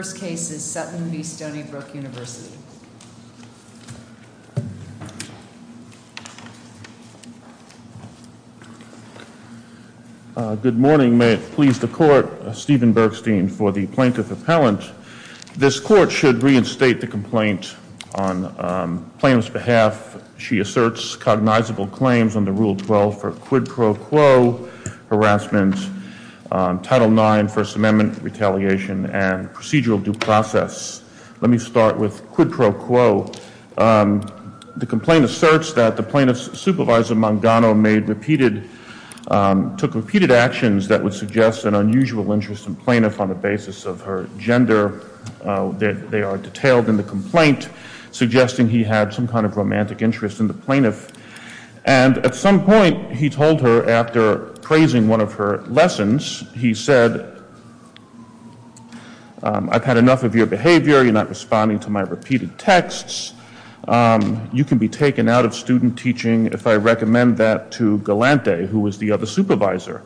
First case is Sutton v. Stony Brook University Good morning, may it please the court, Stephen Bergstein for the plaintiff appellant. This court should reinstate the complaint on plaintiff's behalf. She asserts cognizable claims under Rule 12 for quid pro quo harassment, Title IX First due process. Let me start with quid pro quo. The complaint asserts that the plaintiff's supervisor, Mangano, took repeated actions that would suggest an unusual interest in the plaintiff on the basis of her gender. They are detailed in the complaint, suggesting he had some kind of romantic interest in the plaintiff. And at some point, he told her after praising one of her lessons, he said, I've had enough of your behavior, you're not responding to my repeated texts, you can be taken out of student teaching if I recommend that to Galante, who was the other supervisor.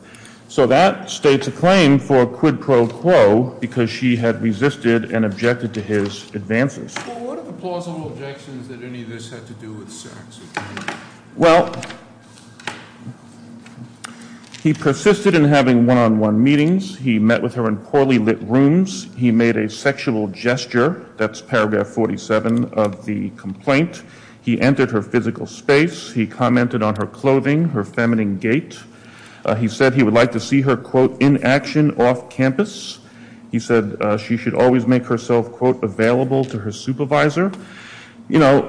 So that states a claim for quid pro quo because she had resisted and objected to his advances. Well, what are the plausible objections that any of this had to do with sex? Well, he persisted in having one-on-one meetings. He met with her in poorly lit rooms. He made a sexual gesture, that's paragraph 47 of the complaint. He entered her physical space. He commented on her clothing, her feminine gait. He said he would like to see her, quote, in action off campus. He said she should always make herself, quote, available to her supervisor. You know,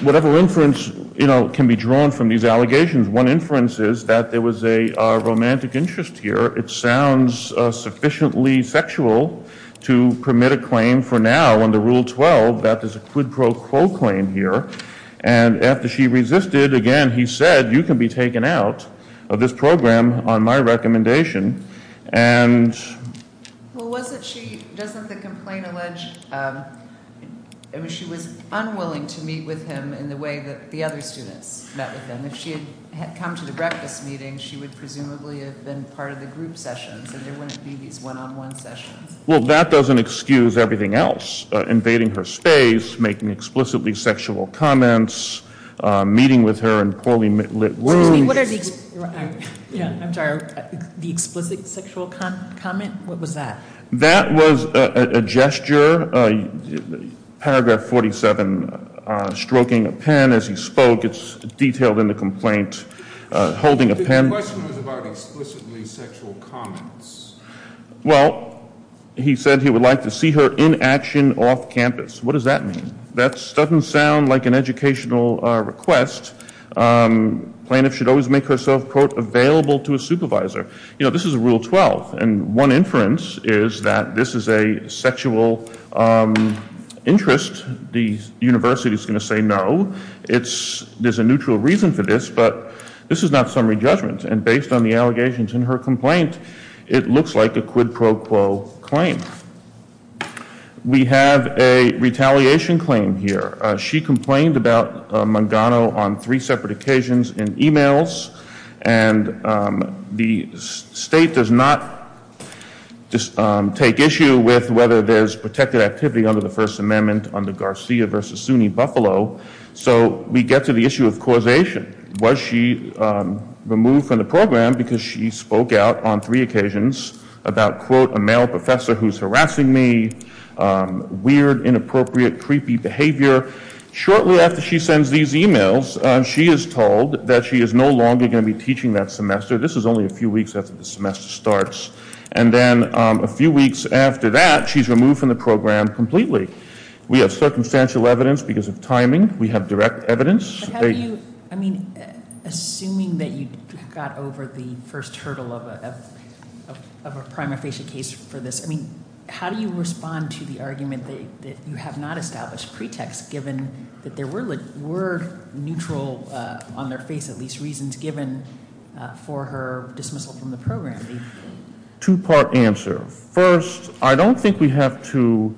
whatever inference, you know, can be drawn from these allegations, one inference is that there was a romantic interest here. It sounds sufficiently sexual to permit a claim for now under Rule 12 that there's a quid pro quo claim here. And after she resisted, again, he said, you can be taken out of this program on my recommendation. And. Well, wasn't she, doesn't the complaint allege, she was unwilling to meet with him in the way that the other students met with him. If she had come to the breakfast meeting, she would presumably have been part of the group sessions, and there wouldn't be these one-on-one sessions. Well, that doesn't excuse everything else. Invading her space, making explicitly sexual comments, meeting with her in poorly lit rooms. Excuse me, what are the, yeah, I'm sorry, the explicit sexual comment, what was that? That was a gesture, paragraph 47, stroking a pen as he spoke. It's detailed in the complaint, holding a pen. The question was about explicitly sexual comments. Well, he said he would like to see her in action off campus. What does that mean? That doesn't sound like an educational request. Plaintiff should always make herself, quote, available to a supervisor. This is rule 12, and one inference is that this is a sexual interest. The university's going to say no. There's a neutral reason for this, but this is not summary judgment. And based on the allegations in her complaint, it looks like a quid pro quo claim. We have a retaliation claim here. She complained about Mangano on three separate occasions in emails. And the state does not take issue with whether there's protected activity under the First Amendment under Garcia versus Sunni Buffalo. So we get to the issue of causation. Was she removed from the program because she spoke out on three occasions about, quote, a male professor who's harassing me, weird, inappropriate, creepy behavior? Shortly after she sends these emails, she is told that she is no longer going to be teaching that semester. This is only a few weeks after the semester starts. And then a few weeks after that, she's removed from the program completely. We have circumstantial evidence because of timing. We have direct evidence. But how do you, I mean, assuming that you got over the first hurdle of a prima facie case for this. I mean, how do you respond to the argument that you have not established pretext given that there were neutral, on their face at least, reasons given for her dismissal from the program? Two part answer. First, I don't think we have to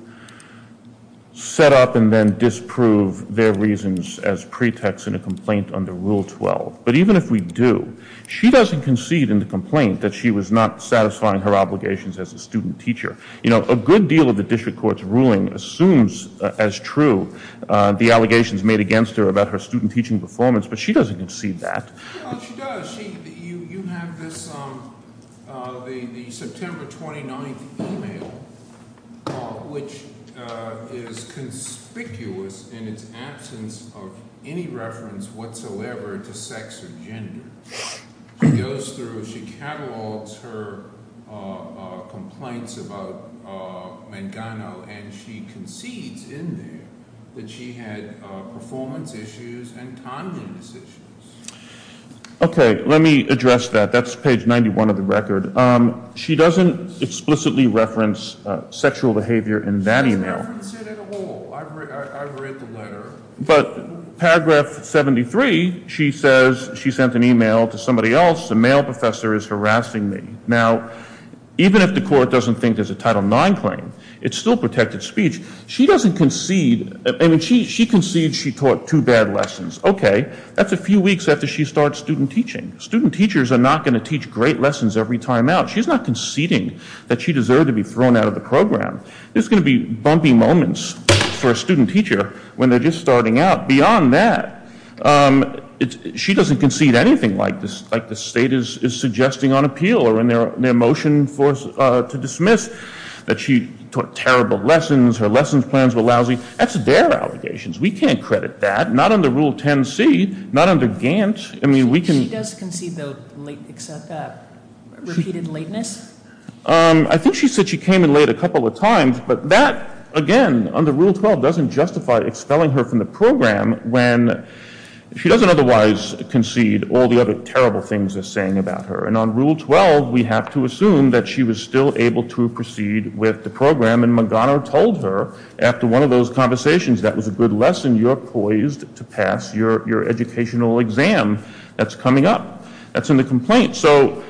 set up and then disprove their reasons as pretext in a complaint under Rule 12. But even if we do, she doesn't concede in the complaint that she was not satisfying her obligations as a student teacher. A good deal of the district court's ruling assumes as true the allegations made against her about her student teaching performance, but she doesn't concede that. Well, she does, you have this, the September 29th email, which is conspicuous in its absence of any reference whatsoever to sex or gender. She goes through, she catalogs her complaints about Mangano, and she concedes in there that she had performance issues and tongueness issues. Okay, let me address that. That's page 91 of the record. She doesn't explicitly reference sexual behavior in that email. She doesn't reference it at all. I read the letter. But paragraph 73, she says she sent an email to somebody else, a male professor is harassing me. Now, even if the court doesn't think there's a Title IX claim, it's still protected speech. She doesn't concede, I mean, she concedes she taught two bad lessons. Okay, that's a few weeks after she starts student teaching. Student teachers are not going to teach great lessons every time out. She's not conceding that she deserved to be thrown out of the program. There's going to be bumpy moments for a student teacher when they're just starting out. Beyond that, she doesn't concede anything like the state is suggesting on appeal or in their motion to dismiss that she taught terrible lessons, her lesson plans were lousy. That's their allegations. We can't credit that. Not under Rule 10C, not under Gantt. I mean, we can- She does concede though, except that repeated lateness? I think she said she came in late a couple of times. But that, again, under Rule 12, doesn't justify expelling her from the program when she doesn't otherwise concede all the other terrible things they're saying about her. And on Rule 12, we have to assume that she was still able to proceed with the program. And McGonagall told her, after one of those conversations, that was a good lesson. You're poised to pass your educational exam that's coming up. That's in the complaint. So,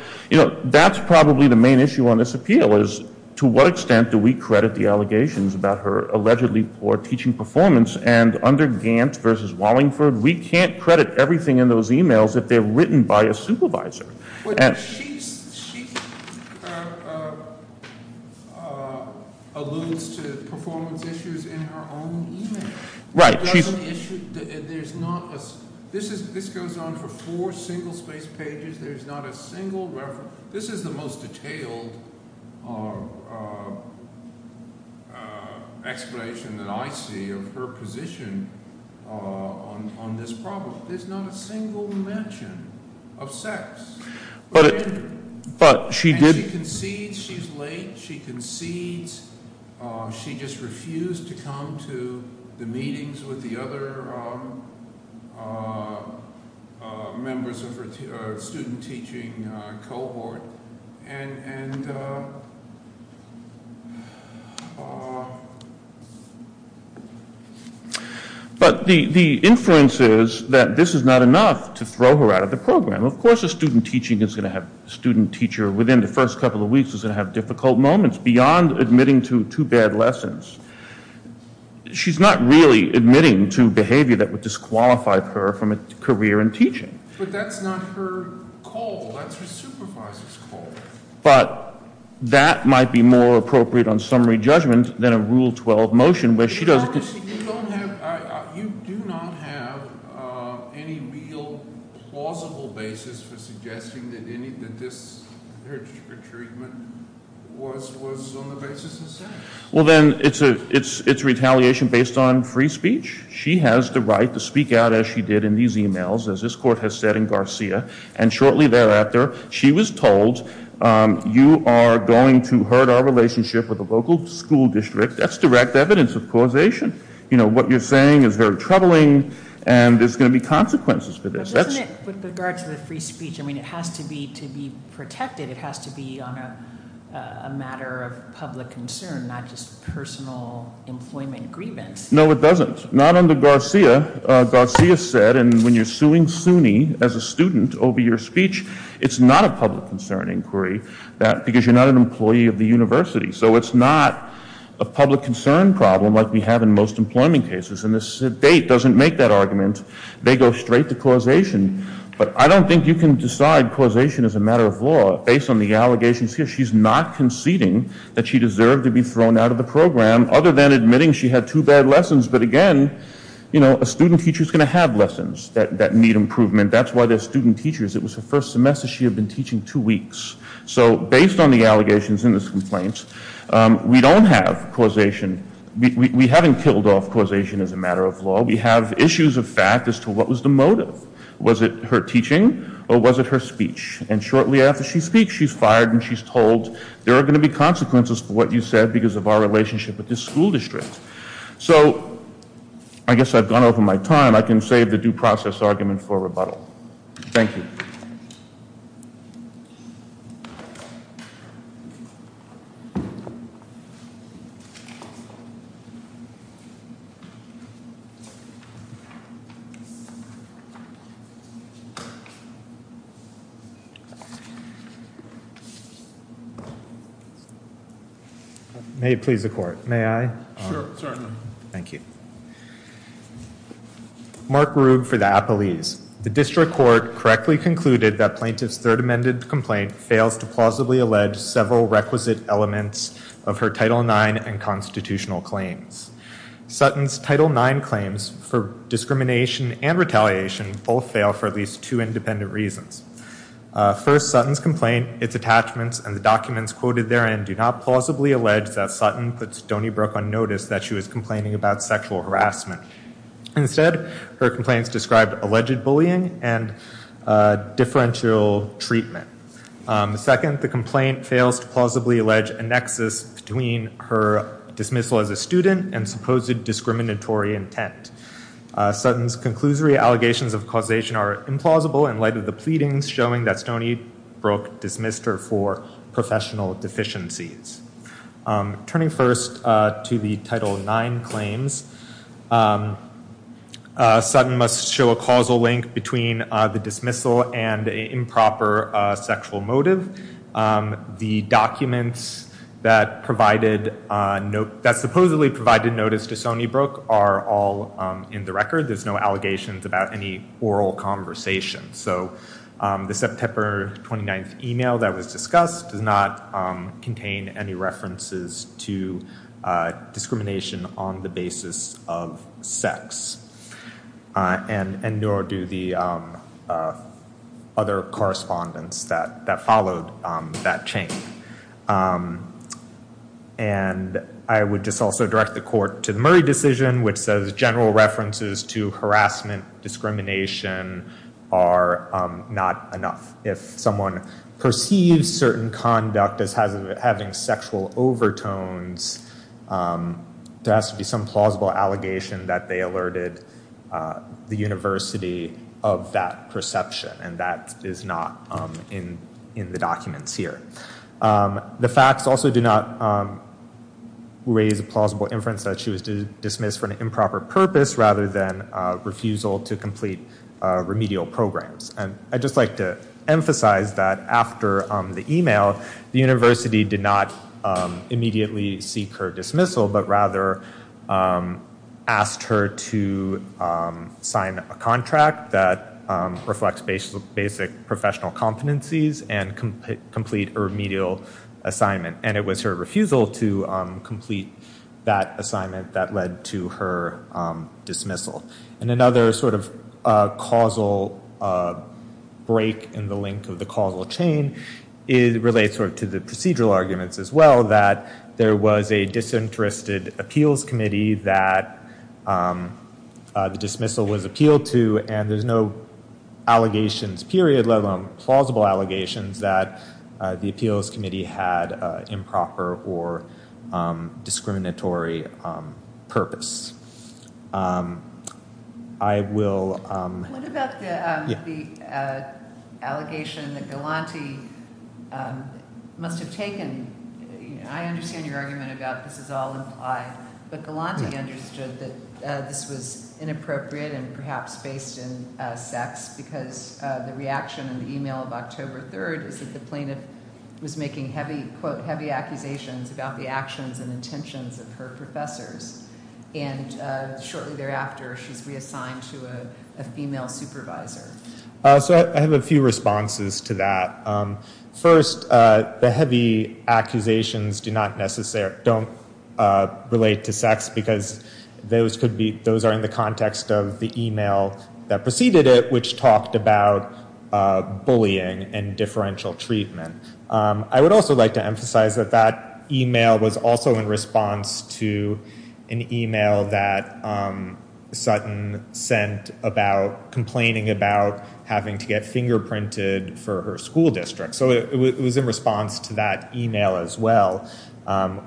that's probably the main issue on this appeal, is to what extent do we credit the allegations about her allegedly poor teaching performance? And under Gantt versus Wallingford, we can't credit everything in those emails if they're written by a supervisor. But she alludes to performance issues in her own email. Right, she's- She doesn't issue, there's not a, this goes on for four single space pages. There's not a single reference. This is the most detailed explanation that I see of her position on this problem. There's not a single mention of sex. But she did- And she concedes, she's late, she concedes. She just refused to come to the meetings with the other members of her student teaching cohort. And, and, but the influence is that this is not enough to throw her out of the program. Of course, a student teacher within the first couple of weeks is going to have difficult moments beyond admitting to two bad lessons. She's not really admitting to behavior that would disqualify her from a career in teaching. But that's not her goal, that's her supervisor's goal. But that might be more appropriate on summary judgment than a rule 12 motion where she doesn't- You don't have, you do not have any real plausible basis for suggesting that any of this, her treatment was on the basis of sex. Well then, it's retaliation based on free speech. She has the right to speak out as she did in these emails, as this court has said in Garcia. And shortly thereafter, she was told, you are going to hurt our relationship with the local school district. That's direct evidence of causation. What you're saying is very troubling, and there's going to be consequences for this. That's- But doesn't it, with regard to the free speech, I mean, it has to be to be protected. It has to be on a matter of public concern, not just personal employment grievance. No, it doesn't. Not under Garcia. Garcia said, and when you're suing SUNY as a student over your speech, it's not a public concern inquiry because you're not an employee of the university. So it's not a public concern problem like we have in most employment cases. And the state doesn't make that argument. They go straight to causation. But I don't think you can decide causation as a matter of law based on the allegations here. She's not conceding that she deserved to be thrown out of the program other than admitting she had two bad lessons. But again, a student teacher's going to have lessons that need improvement. That's why they're student teachers. It was her first semester, she had been teaching two weeks. So based on the allegations in this complaint, we don't have causation. We haven't killed off causation as a matter of law. We have issues of fact as to what was the motive. Was it her teaching or was it her speech? And shortly after she speaks, she's fired and she's told, there are going to be consequences for what you said because of our relationship with this school district. So, I guess I've gone over my time. I can save the due process argument for rebuttal. Thank you. May it please the court, may I? Sure, certainly. Thank you. Mark Rube for the Appellees. The district court correctly concluded that plaintiff's third amended complaint fails to plausibly allege several requisite elements of her Title IX and constitutional claims. Sutton's Title IX claims for discrimination and retaliation both fail for at least two independent reasons. First, Sutton's complaint, its attachments, and the documents quoted therein do not plausibly allege that Sutton put Stoneybrook on notice that she was complaining about sexual harassment. Instead, her complaints described alleged bullying and differential treatment. Second, the complaint fails to plausibly allege a nexus between her dismissal as a student and supposed discriminatory intent. Sutton's conclusory allegations of causation are implausible in light of the pleadings showing that Stoneybrook dismissed her for professional deficiencies. Turning first to the Title IX claims, Sutton must show a causal link between the dismissal and a improper sexual motive. The documents that supposedly provided notice to Stoneybrook are all in the record. There's no allegations about any oral conversation. So the September 29th email that was discussed does not contain any references to discrimination on the basis of sex, and nor do the other correspondence that followed that chain. And I would just also direct the court to the Murray decision, which says general references to harassment, discrimination are not enough. If someone perceives certain conduct as having sexual overtones, there has to be some plausible allegation that they alerted the university of that perception, and that is not in the documents here. The facts also do not raise a plausible inference that she was dismissed for an improper purpose rather than a refusal to complete remedial programs. And I'd just like to emphasize that after the email, the university did not immediately seek her dismissal, but rather asked her to sign a contract that reflects basic professional competencies and complete a remedial assignment. And it was her refusal to complete that assignment that led to her dismissal. And another sort of causal break in the link of the causal chain relates to the procedural arguments as well, that there was a disinterested appeals committee that the dismissal was appealed to, and there's no allegations, period, let alone plausible allegations that the appeals committee had improper or discriminatory purpose. I will... I understand your argument about this is all implied, but Galante understood that this was inappropriate and perhaps based in sex, because the reaction in the email of October 3rd is that the plaintiff was making heavy, quote, heavy accusations about the actions and intentions of her professors. And shortly thereafter, she's reassigned to a female supervisor. So I have a few responses to that. First, the heavy accusations do not necessarily... don't relate to sex, because those could be... those are in the context of the email that preceded it, which talked about bullying and differential treatment. I would also like to emphasize that that email was also in response to an email that having to get fingerprinted for her school district. So it was in response to that email as well,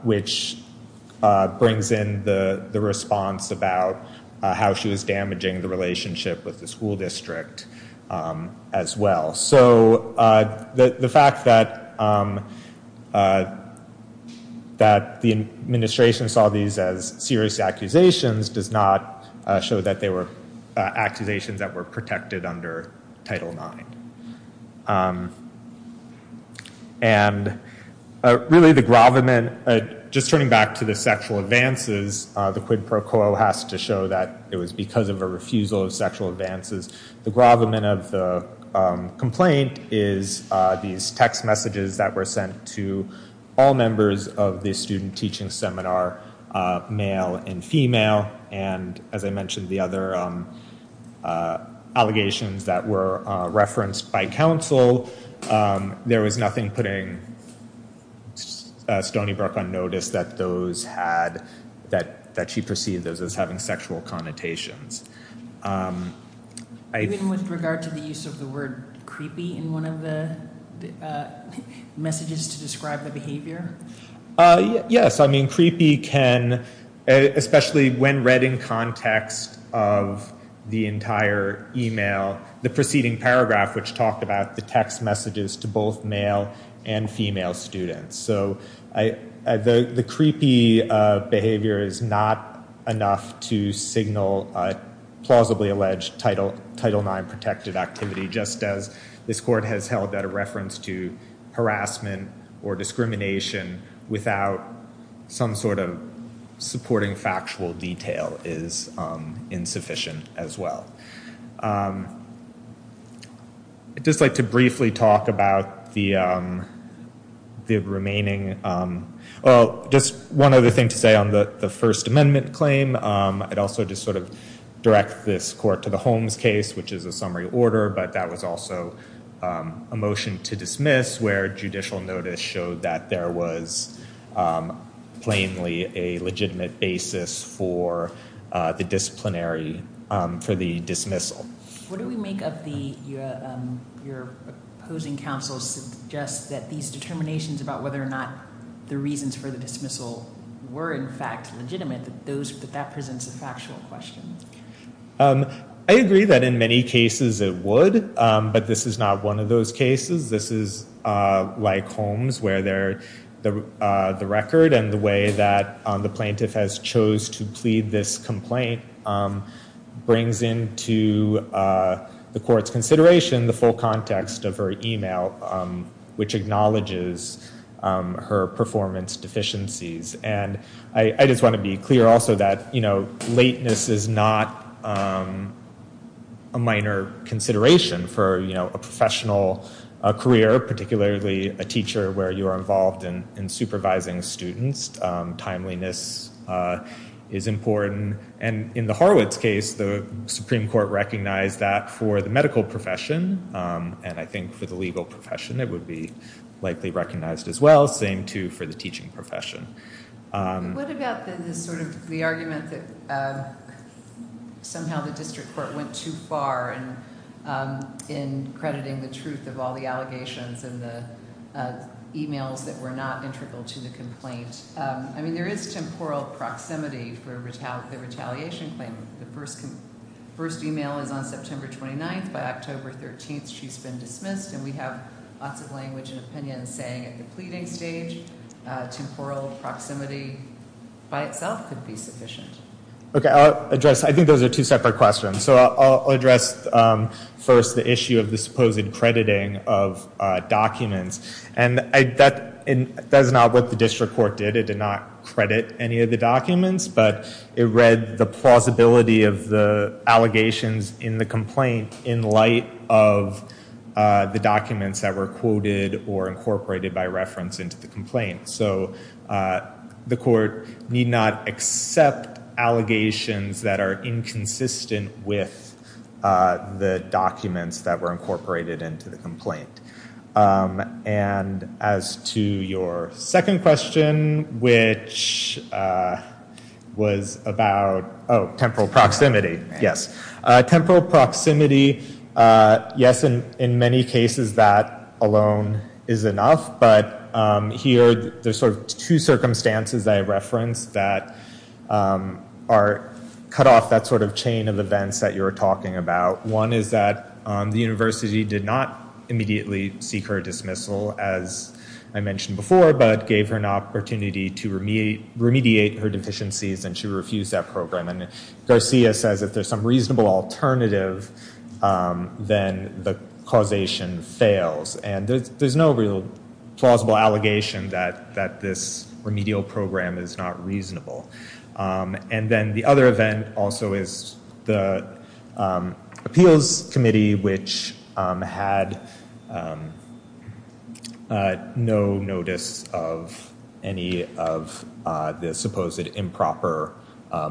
which brings in the response about how she was damaging the relationship with the school district as well. So the fact that the administration saw these as serious accusations does not show that they were accusations that were protected under Title IX. And really, the gravamen... just turning back to the sexual advances, the quid pro quo has to show that it was because of a refusal of sexual advances. The gravamen of the complaint is these text messages that were sent to all members of the student teaching seminar, male and female. And as I mentioned, the other allegations that were referenced by counsel, there was nothing putting Stony Brook on notice that those had... that she perceived those as having sexual connotations. Even with regard to the use of the word creepy in one of the messages to describe the behavior? Uh, yes. I mean, creepy can... especially when read in context of the entire email, the preceding paragraph, which talked about the text messages to both male and female students. So the creepy behavior is not enough to signal a plausibly alleged Title IX protected activity, just as this court has held that a reference to harassment or discrimination without some sort of supporting factual detail is insufficient as well. I'd just like to briefly talk about the remaining... well, just one other thing to say on the First Amendment claim. I'd also just sort of direct this court to the Holmes case, which is a summary order, but that was also a motion to dismiss where judicial notice showed that there was plainly a legitimate basis for the disciplinary... for the dismissal. What do we make of the... your opposing counsel suggests that these determinations about whether or not the reasons for the dismissal were in fact legitimate, that those... that that presents a factual question? Um, I agree that in many cases it would, but this is not one of those cases. This is like Holmes, where they're... the record and the way that the plaintiff has chose to plead this complaint brings into the court's consideration the full context of her email, which acknowledges her performance deficiencies. And I just want to be clear also that, you know, lateness is not a minor consideration for, you know, a professional career, particularly a teacher where you are involved in supervising students. Timeliness is important. And in the Horwitz case, the Supreme Court recognized that for the medical profession, and I think for the legal profession it would be likely recognized as well. Same too for the teaching profession. What about the sort of... the argument that somehow the district court went too far in crediting the truth of all the allegations and the emails that were not integral to the complaint? I mean, there is temporal proximity for the retaliation claim. The first email is on September 29th. By October 13th, she's been dismissed. And we have lots of language and opinions saying at the pleading stage, temporal proximity by itself could be sufficient. Okay, I'll address... I think those are two separate questions. So I'll address first the issue of the supposed crediting of documents. And that is not what the district court did. It did not credit any of the documents, but it read the plausibility of the allegations in the complaint in light of the documents that were quoted or incorporated by reference into the complaint. So the court need not accept allegations that are inconsistent with the documents that were incorporated into the complaint. And as to your second question, which was about... Oh, temporal proximity. Yes. Temporal proximity, yes, in many cases, that alone is enough. But here, there's sort of two circumstances that I referenced that are cut off that sort of chain of events that you were talking about. One is that the university did not immediately seek her dismissal, as I mentioned before, but gave her an opportunity to remediate her deficiencies. And she refused that program. And Garcia says if there's some reasonable alternative, then the causation fails. And there's no real plausible allegation that this remedial program is not reasonable. And then the other event also is the appeals committee, which had no notice of any of the supposed improper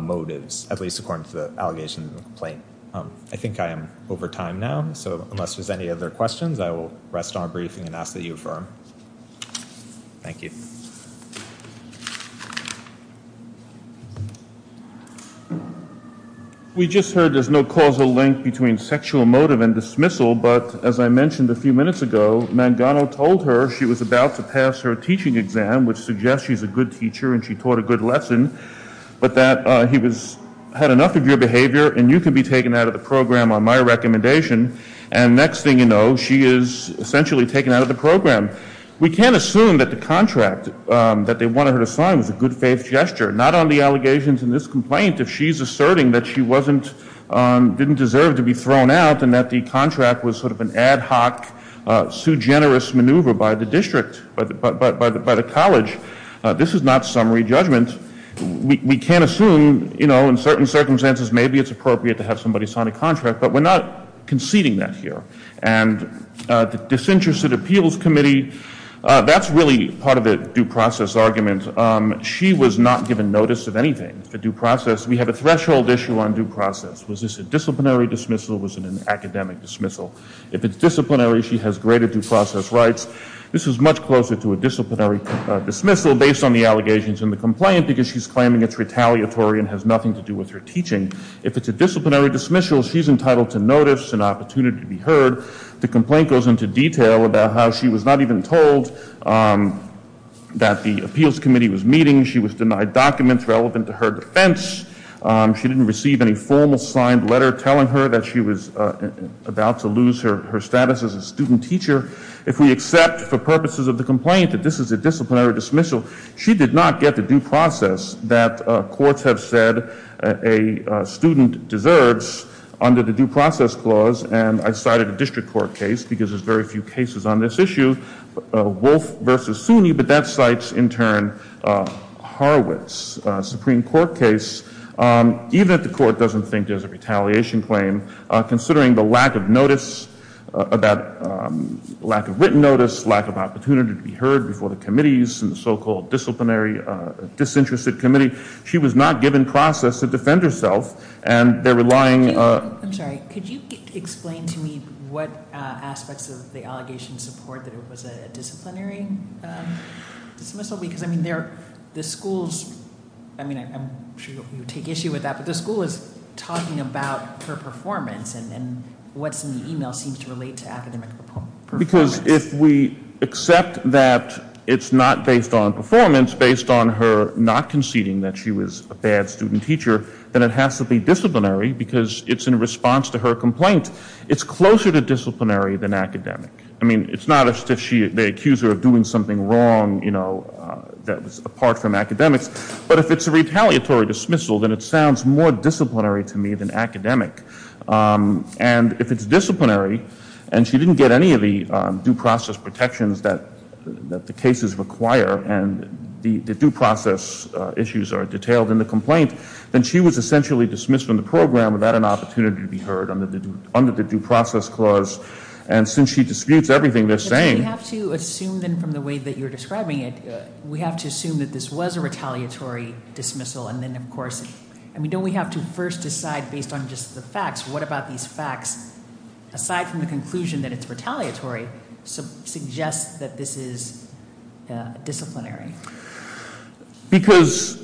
motives, at least according to the allegation in the complaint. I think I am over time now. So unless there's any other questions, I will rest on a briefing and ask that you affirm. Thank you. We just heard there's no causal link between sexual motive and dismissal. But as I mentioned a few minutes ago, Mangano told her she was about to pass her teaching exam, which suggests she's a good teacher and she taught a good lesson, but that he had enough of your behavior and you can be taken out of the program on my recommendation. And next thing you know, she is essentially taken out of the program. We can't assume that the contract that they wanted her to sign was a good faith gesture, not on the allegations in this complaint, if she's asserting that she didn't deserve to be thrown out and that the contract was sort of an ad hoc, soo generous maneuver by the district, by the college. This is not summary judgment. We can't assume, you know, in certain circumstances, maybe it's appropriate to have somebody sign a contract, but we're not conceding that here. And the disinterested appeals committee, that's really part of the due process argument. She was not given notice of anything, the due process. We have a threshold issue on due process. Was this a disciplinary dismissal? Was it an academic dismissal? If it's disciplinary, she has greater due process rights. This is much closer to a disciplinary dismissal based on the allegations in the complaint, because she's claiming it's retaliatory and has nothing to do with her teaching. If it's a disciplinary dismissal, she's entitled to notice and opportunity to be heard. The complaint goes into detail about how she was not even told that the appeals committee was meeting. She was denied documents relevant to her defense. She didn't receive any formal signed letter telling her that she was about to lose her status as a student teacher. If we accept for purposes of the complaint that this is a disciplinary dismissal, she did not get the due process that courts have said a student deserves under the due process clause. And I cited a district court case, because there's very few cases on this issue, Horowitz Supreme Court case. Even if the court doesn't think there's a retaliation claim, considering the lack of notice about lack of written notice, lack of opportunity to be heard before the committees and the so-called disciplinary disinterested committee, she was not given process to defend herself. And they're relying... I'm sorry, could you explain to me what aspects of the allegation support that it was a disciplinary dismissal? Because I mean, the school's... I mean, I'm sure you'll take issue with that. But the school is talking about her performance, and what's in the email seems to relate to academic performance. Because if we accept that it's not based on performance, based on her not conceding that she was a bad student teacher, then it has to be disciplinary because it's in response to her complaint. It's closer to disciplinary than academic. I mean, it's not as if they accuse her of doing something wrong, that was apart from academics. But if it's a retaliatory dismissal, then it sounds more disciplinary to me than academic. And if it's disciplinary, and she didn't get any of the due process protections that the cases require, and the due process issues are detailed in the complaint, then she was essentially dismissed from the program without an opportunity to be heard under the due process clause. And since she disputes everything they're saying... But you have to assume then from the way that you're describing it, we have to assume that this was a retaliatory dismissal. And then, of course, I mean, don't we have to first decide based on just the facts? What about these facts, aside from the conclusion that it's retaliatory, suggest that this is disciplinary? Because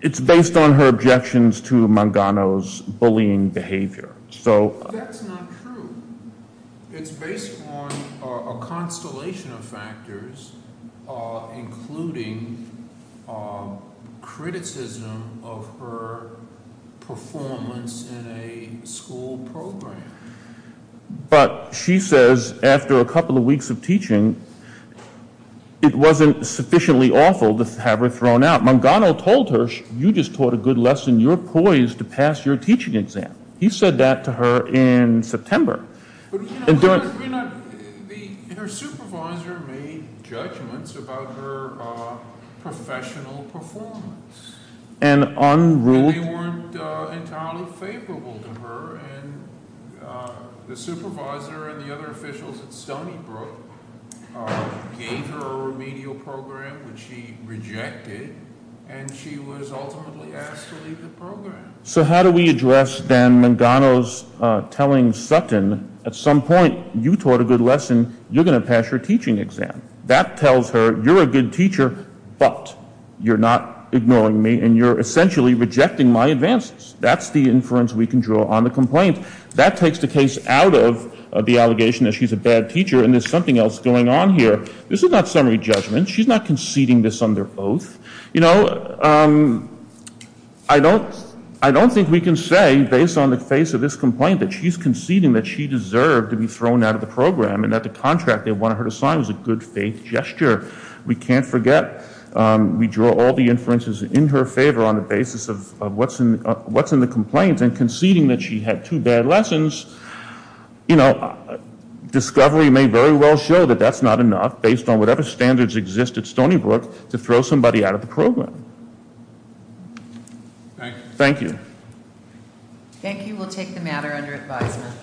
it's based on her objections to Mangano's bullying behavior. So... That's not true. It's based on a constellation of factors, including criticism of her performance in a school program. But she says after a couple of weeks of teaching, it wasn't sufficiently awful to have her thrown out. Mangano told her, you just taught a good lesson, you're poised to pass your teaching exam. He said that to her in September. But you know, her supervisor made judgments about her professional performance. And unruled... And they weren't entirely favorable to her. And the supervisor and the other officials at Stony Brook gave her a remedial program, which she rejected. And she was ultimately asked to leave the program. So how do we address then Mangano's telling Sutton, at some point you taught a good lesson, you're going to pass your teaching exam. That tells her you're a good teacher, but you're not ignoring me, and you're essentially rejecting my advances. That's the inference we can draw on the complaint. That takes the case out of the allegation that she's a bad teacher. And there's something else going on here. This is not summary judgment. She's not conceding this under oath. You know, I don't think we can say, based on the face of this complaint, that she's conceding that she deserved to be thrown out of the program and that the contract they wanted her to sign was a good faith gesture. We can't forget, we draw all the inferences in her favor on the basis of what's in the complaint and conceding that she had two bad lessons. You know, discovery may very well show that that's not enough, based on whatever standards exist at Stony Brook, to throw somebody out of the program. Thank you. Thank you. We'll take the matter under advisement.